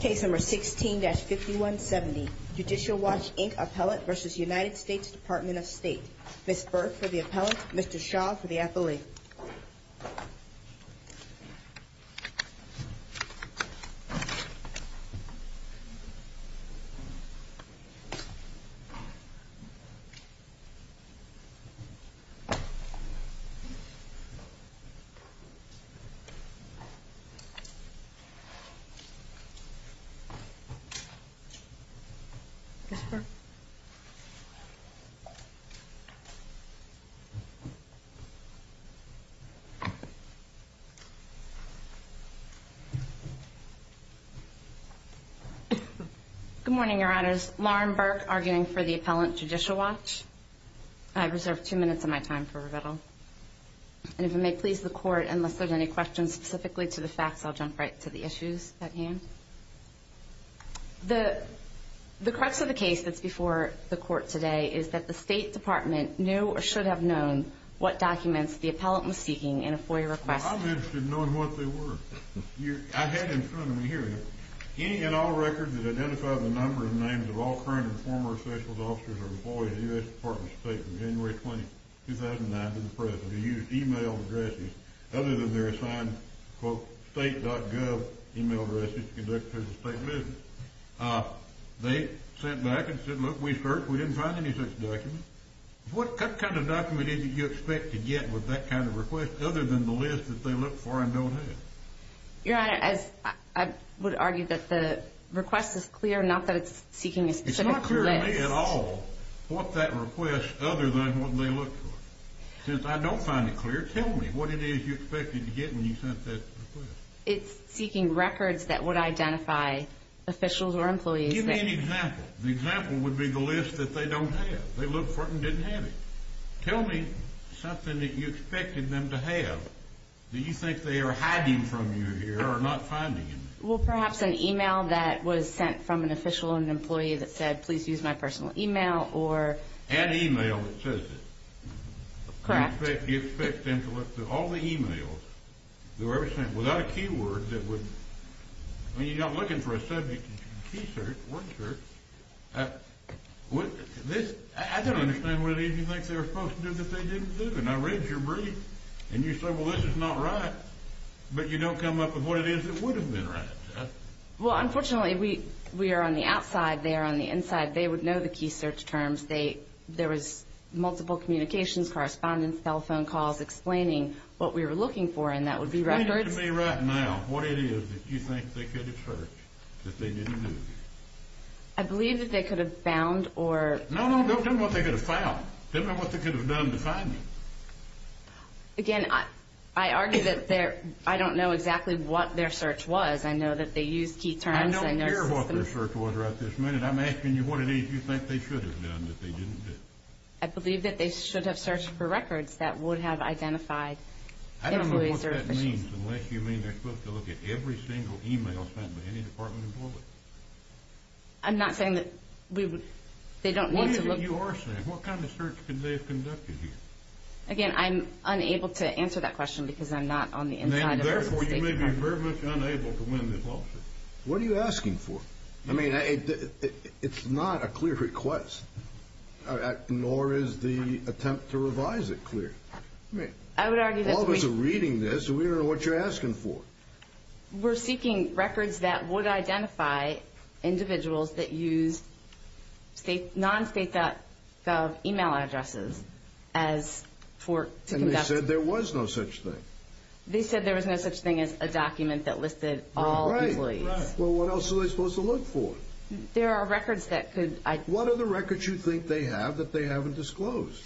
Case No. 16-5170, Judicial Watch, Inc. appellate v. United States Department of State. Ms. Burke for the appellate, Mr. Shaw for the affiliate. Ms. Burke. Good morning, Your Honors. Lauren Burke, arguing for the appellate, Judicial Watch. I reserve two minutes of my time for rebuttal. And if it may please the Court, unless there's any questions specifically to the facts, I'll jump right to the issues at hand. The crux of the case that's before the Court today is that the State Department knew or should have known what documents the appellate was seeking in a FOIA request. Well, I'm interested in knowing what they were. I had in front of me here, any and all records that identify the number and names of all current and former officials, officers, or employees of the U.S. Department of State from January 20, 2009 to the present, have used e-mail addresses other than their assigned, quote, state.gov e-mail addresses to conduct their state visits. They sat back and said, look, we searched. We didn't find any such documents. What kind of document did you expect to get with that kind of request, other than the list that they look for and don't have? Your Honor, I would argue that the request is clear, not that it's seeking a specific list. It's not clear to me at all what that request, other than what they look for. Since I don't find it clear, tell me what it is you expected to get when you sent that request. It's seeking records that would identify officials or employees. Give me an example. The example would be the list that they don't have. They look for it and didn't have it. Tell me something that you expected them to have that you think they are hiding from you here or not finding. Well, perhaps an e-mail that was sent from an official or an employee that said, please use my personal e-mail, or... An e-mail that says it. Correct. You expect them to look through all the e-mails that were ever sent without a keyword that would... I mean, you're not looking for a subject that you can key search, word search. I don't understand what it is you think they were supposed to do that they didn't do. And I read your brief, and you said, well, this is not right. But you don't come up with what it is that would have been right. Well, unfortunately, we are on the outside. They are on the inside. They would know the key search terms. There was multiple communications, correspondence, telephone calls explaining what we were looking for, and that would be records. Tell me right now what it is that you think they could have searched that they didn't do. I believe that they could have found or... No, no, tell me what they could have found. Tell me what they could have done to find you. Again, I argue that I don't know exactly what their search was. I know that they used key terms. I don't care what their search was right this minute. I'm asking you what it is you think they should have done that they didn't do. I believe that they should have searched for records that would have identified employees or officials. I don't know what that means unless you mean they're supposed to look at every single e-mail sent by any department employee. I'm not saying that they don't need to look... What is it you are saying? What kind of search could they have conducted here? Again, I'm unable to answer that question because I'm not on the inside of... Therefore, you may be very much unable to win this lawsuit. What are you asking for? I mean, it's not a clear request, nor is the attempt to revise it clear. I would argue that we... All of us are reading this, and we don't know what you're asking for. We're seeking records that would identify individuals that use non-state.gov e-mail addresses as for... And they said there was no such thing. They said there was no such thing as a document that listed all employees. Right, right. Well, what else are they supposed to look for? There are records that could... What are the records you think they have that they haven't disclosed?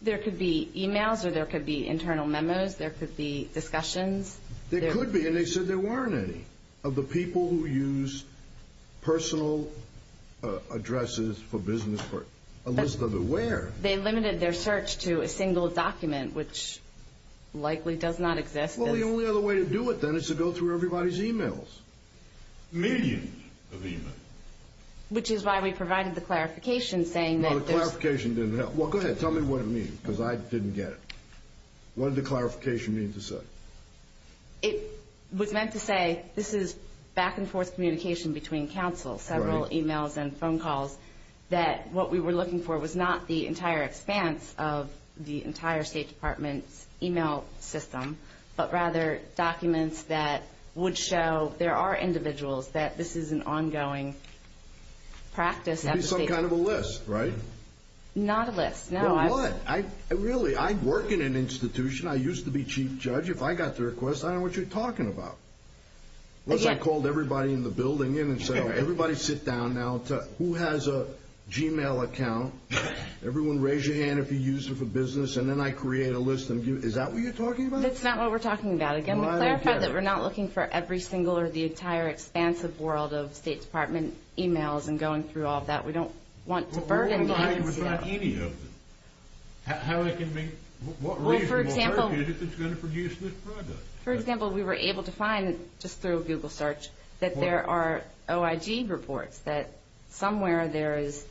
There could be e-mails, or there could be internal memos. There could be discussions. There could be, and they said there weren't any, of the people who use personal addresses for business. A list of the where. They limited their search to a single document, which likely does not exist. Well, the only other way to do it, then, is to go through everybody's e-mails. Millions of e-mails. Which is why we provided the clarification, saying that there's... The clarification didn't help. Well, go ahead. Tell me what it means, because I didn't get it. What did the clarification mean to say? It was meant to say this is back-and-forth communication between counsel, several e-mails and phone calls, that what we were looking for was not the entire expanse of the entire State Department's e-mail system, but rather documents that would show there are individuals that this is an ongoing practice. That would be some kind of a list, right? Not a list, no. Well, what? Really, I work in an institution. I used to be chief judge. If I got the request, I don't know what you're talking about. I called everybody in the building in and said, everybody sit down now. Who has a Gmail account? Everyone raise your hand if you use it for business, and then I create a list. Is that what you're talking about? That's not what we're talking about. Again, we clarified that we're not looking for every single or the entire expansive world of State Department e-mails and going through all of that. We don't want to burden clients. How do you find any of them? How can they be? Well, for example, we were able to find, just through a Google search, that there are OIG reports, that somewhere there is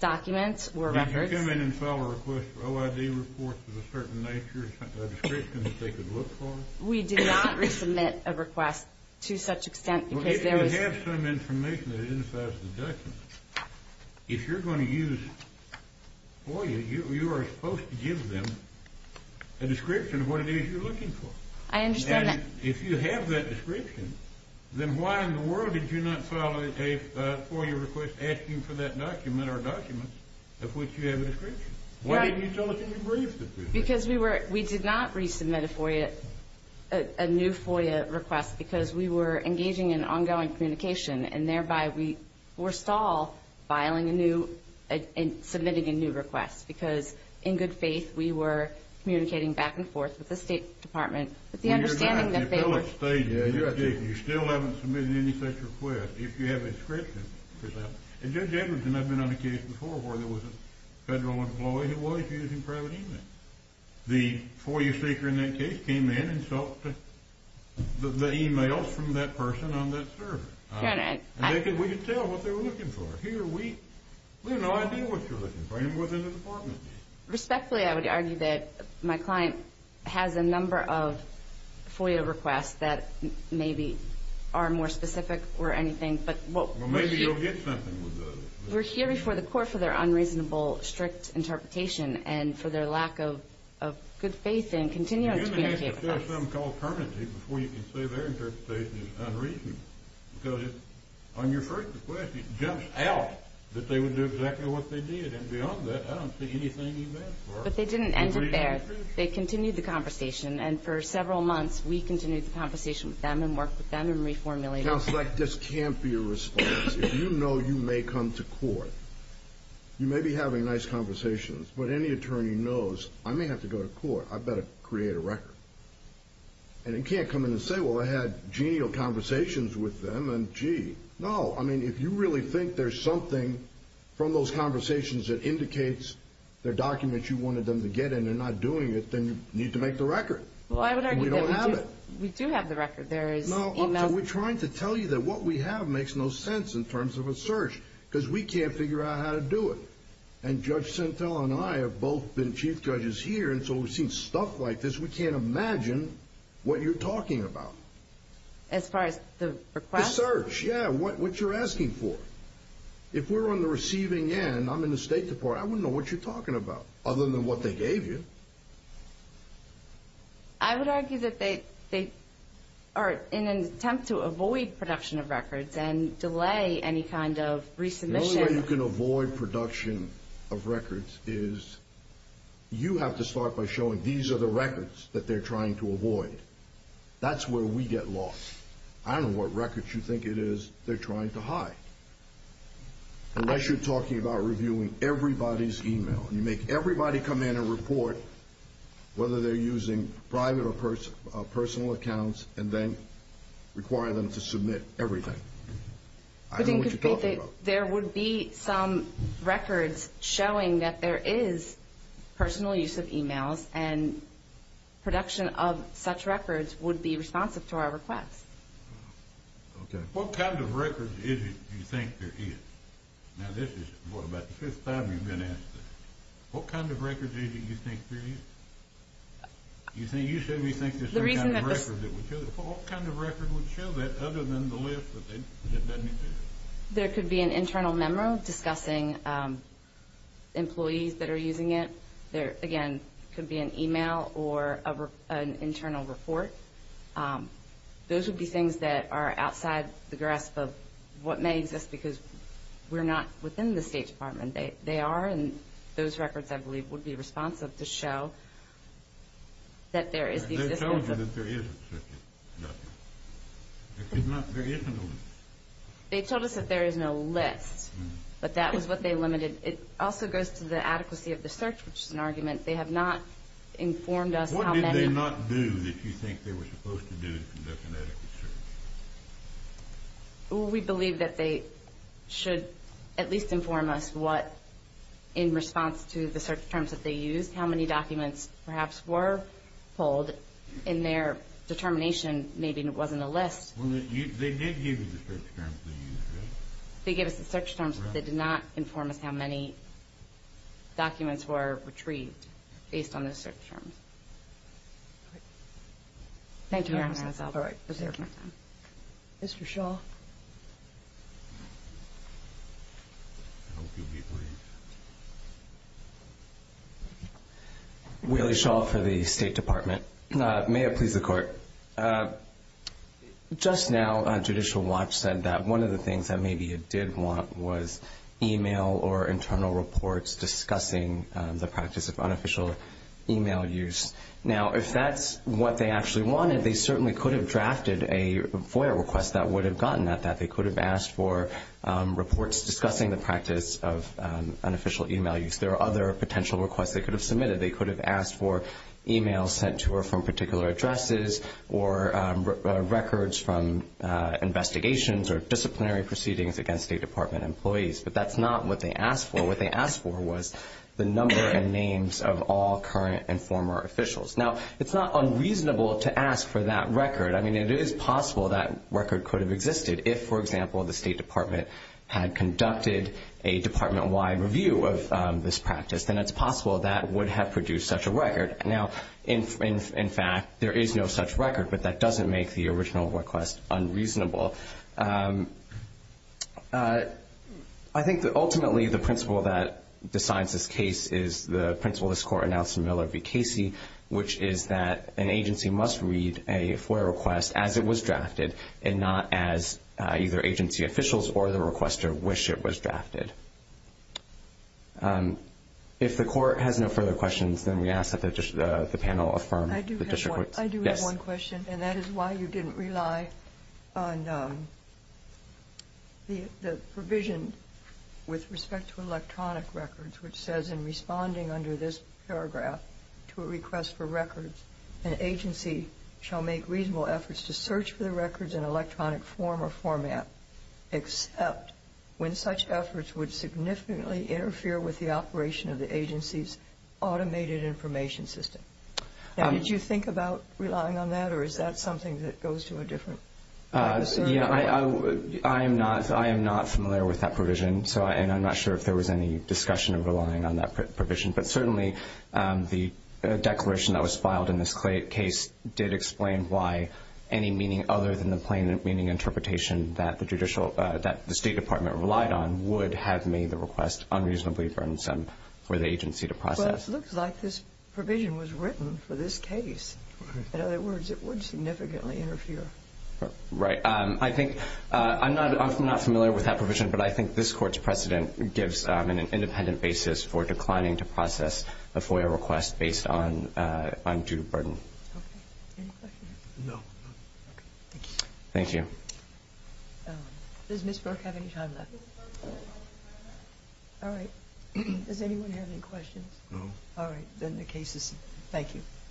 documents or records. Did you come in and file a request for OIG reports of a certain nature, a description that they could look for? We did not resubmit a request to such extent because there was. If you have some information that identifies the document, if you're going to use FOIA, you are supposed to give them a description of what it is you're looking for. I understand that. If you have that description, then why in the world did you not file a FOIA request asking for that document or documents of which you have a description? Why didn't you tell us in your brief? We did not resubmit a new FOIA request because we were engaging in ongoing communication and thereby we were stalled filing a new and submitting a new request because, in good faith, we were communicating back and forth with the State Department with the understanding that they were. You're not. You still haven't submitted any such request if you have a description. Judge Anderson, I've been on a case before where there was a federal employee who was using private e-mail. The FOIA seeker in that case came in and sought the e-mails from that person on that server. We could tell what they were looking for. We had no idea what they were looking for and it wasn't the Department. Respectfully, I would argue that my client has a number of FOIA requests that maybe are more specific or anything. Well, maybe you'll get something with those. We're here before the court for their unreasonable, strict interpretation and for their lack of good faith in continuing to communicate with us. You're going to have to fill something called permanency before you can say their interpretation is unreasonable because on your first request it jumped out that they would do exactly what they did, and beyond that I don't see anything you've asked for. But they didn't end it there. They continued the conversation, and for several months we continued the conversation with them and worked with them and reformulated it. Counsel, this can't be a response. If you know you may come to court, you may be having nice conversations, but any attorney knows, I may have to go to court, I better create a record. And you can't come in and say, well, I had genial conversations with them, and gee. No, I mean, if you really think there's something from those conversations that indicates they're documents you wanted them to get and they're not doing it, then you need to make the record. Well, I would argue that we do have the record. We're trying to tell you that what we have makes no sense in terms of a search because we can't figure out how to do it. And Judge Sentell and I have both been chief judges here, and so we've seen stuff like this we can't imagine what you're talking about. As far as the request? The search, yeah, what you're asking for. If we're on the receiving end, I'm in the State Department, I wouldn't know what you're talking about other than what they gave you. I would argue that they are in an attempt to avoid production of records and delay any kind of resubmission. The only way you can avoid production of records is you have to start by showing these are the records that they're trying to avoid. That's where we get lost. I don't know what records you think it is they're trying to hide. Unless you're talking about reviewing everybody's email, you make everybody come in and report whether they're using private or personal accounts, and then require them to submit everything. I don't know what you're talking about. There would be some records showing that there is personal use of emails, and production of such records would be responsive to our request. Okay. What kind of records do you think there is? Now this is about the fifth time you've been asked that. What kind of records do you think there is? You said you think there's some kind of record that would show that. What kind of record would show that other than the list that doesn't exist? There could be an internal memo discussing employees that are using it. There, again, could be an email or an internal report. Those would be things that are outside the grasp of what may exist because we're not within the State Department. They are, and those records I believe would be responsive to show that there is. They told you that there isn't such a list. There isn't a list. They told us that there is no list, but that was what they limited. It also goes to the adequacy of the search, which is an argument. They have not informed us how many. What did they not do that you think they were supposed to do to conduct an adequate search? We believe that they should at least inform us what, in response to the search terms that they used, how many documents perhaps were pulled. In their determination, maybe it wasn't a list. They did give you the search terms they used, right? They gave us the search terms, but they did not inform us how many documents were retrieved based on those search terms. All right. Thank you, Your Honor. That's all right. Thank you. Mr. Shaw. I hope you'll be brief. Willie Shaw for the State Department. May it please the Court. Just now Judicial Watch said that one of the things that maybe it did want was email or internal reports discussing the practice of unofficial email use. Now, if that's what they actually wanted, they certainly could have drafted a FOIA request that would have gotten at that. They could have asked for reports discussing the practice of unofficial email use. There are other potential requests they could have submitted. They could have asked for emails sent to or from particular addresses or records from investigations or disciplinary proceedings against State Department employees, but that's not what they asked for. What they asked for was the number and names of all current and former officials. Now, it's not unreasonable to ask for that record. I mean, it is possible that record could have existed if, for example, the State Department had conducted a department-wide review of this practice. Then it's possible that would have produced such a record. Now, in fact, there is no such record, but that doesn't make the original request unreasonable. I think that ultimately the principle that decides this case is the principle this Court announced in Miller v. Casey, which is that an agency must read a FOIA request as it was drafted and not as either agency officials or the requester wish it was drafted. If the Court has no further questions, then we ask that the panel affirm the district courts. I do have one question, and that is why you didn't rely on the provision with respect to electronic records, which says in responding under this paragraph to a request for records, an agency shall make reasonable efforts to search for the records in electronic form or format except when such efforts would significantly interfere with the operation of the agency's automated information system. Now, did you think about relying on that, or is that something that goes to a different practice? I am not familiar with that provision, and I'm not sure if there was any discussion of relying on that provision. But certainly the declaration that was filed in this case did explain why any meaning other than the plain meaning interpretation that the State Department relied on would have made the request unreasonably burdensome for the agency to process. Well, it looks like this provision was written for this case. In other words, it would significantly interfere. Right. I'm not familiar with that provision, but I think this Court's precedent gives an independent basis for declining to process a FOIA request based on due burden. Okay. Any questions? No. Okay. Thank you. Thank you. Does Ms. Burke have any time left? Ms. Burke has no time left. All right. Does anyone have any questions? No. All right. Then the case is—thank you.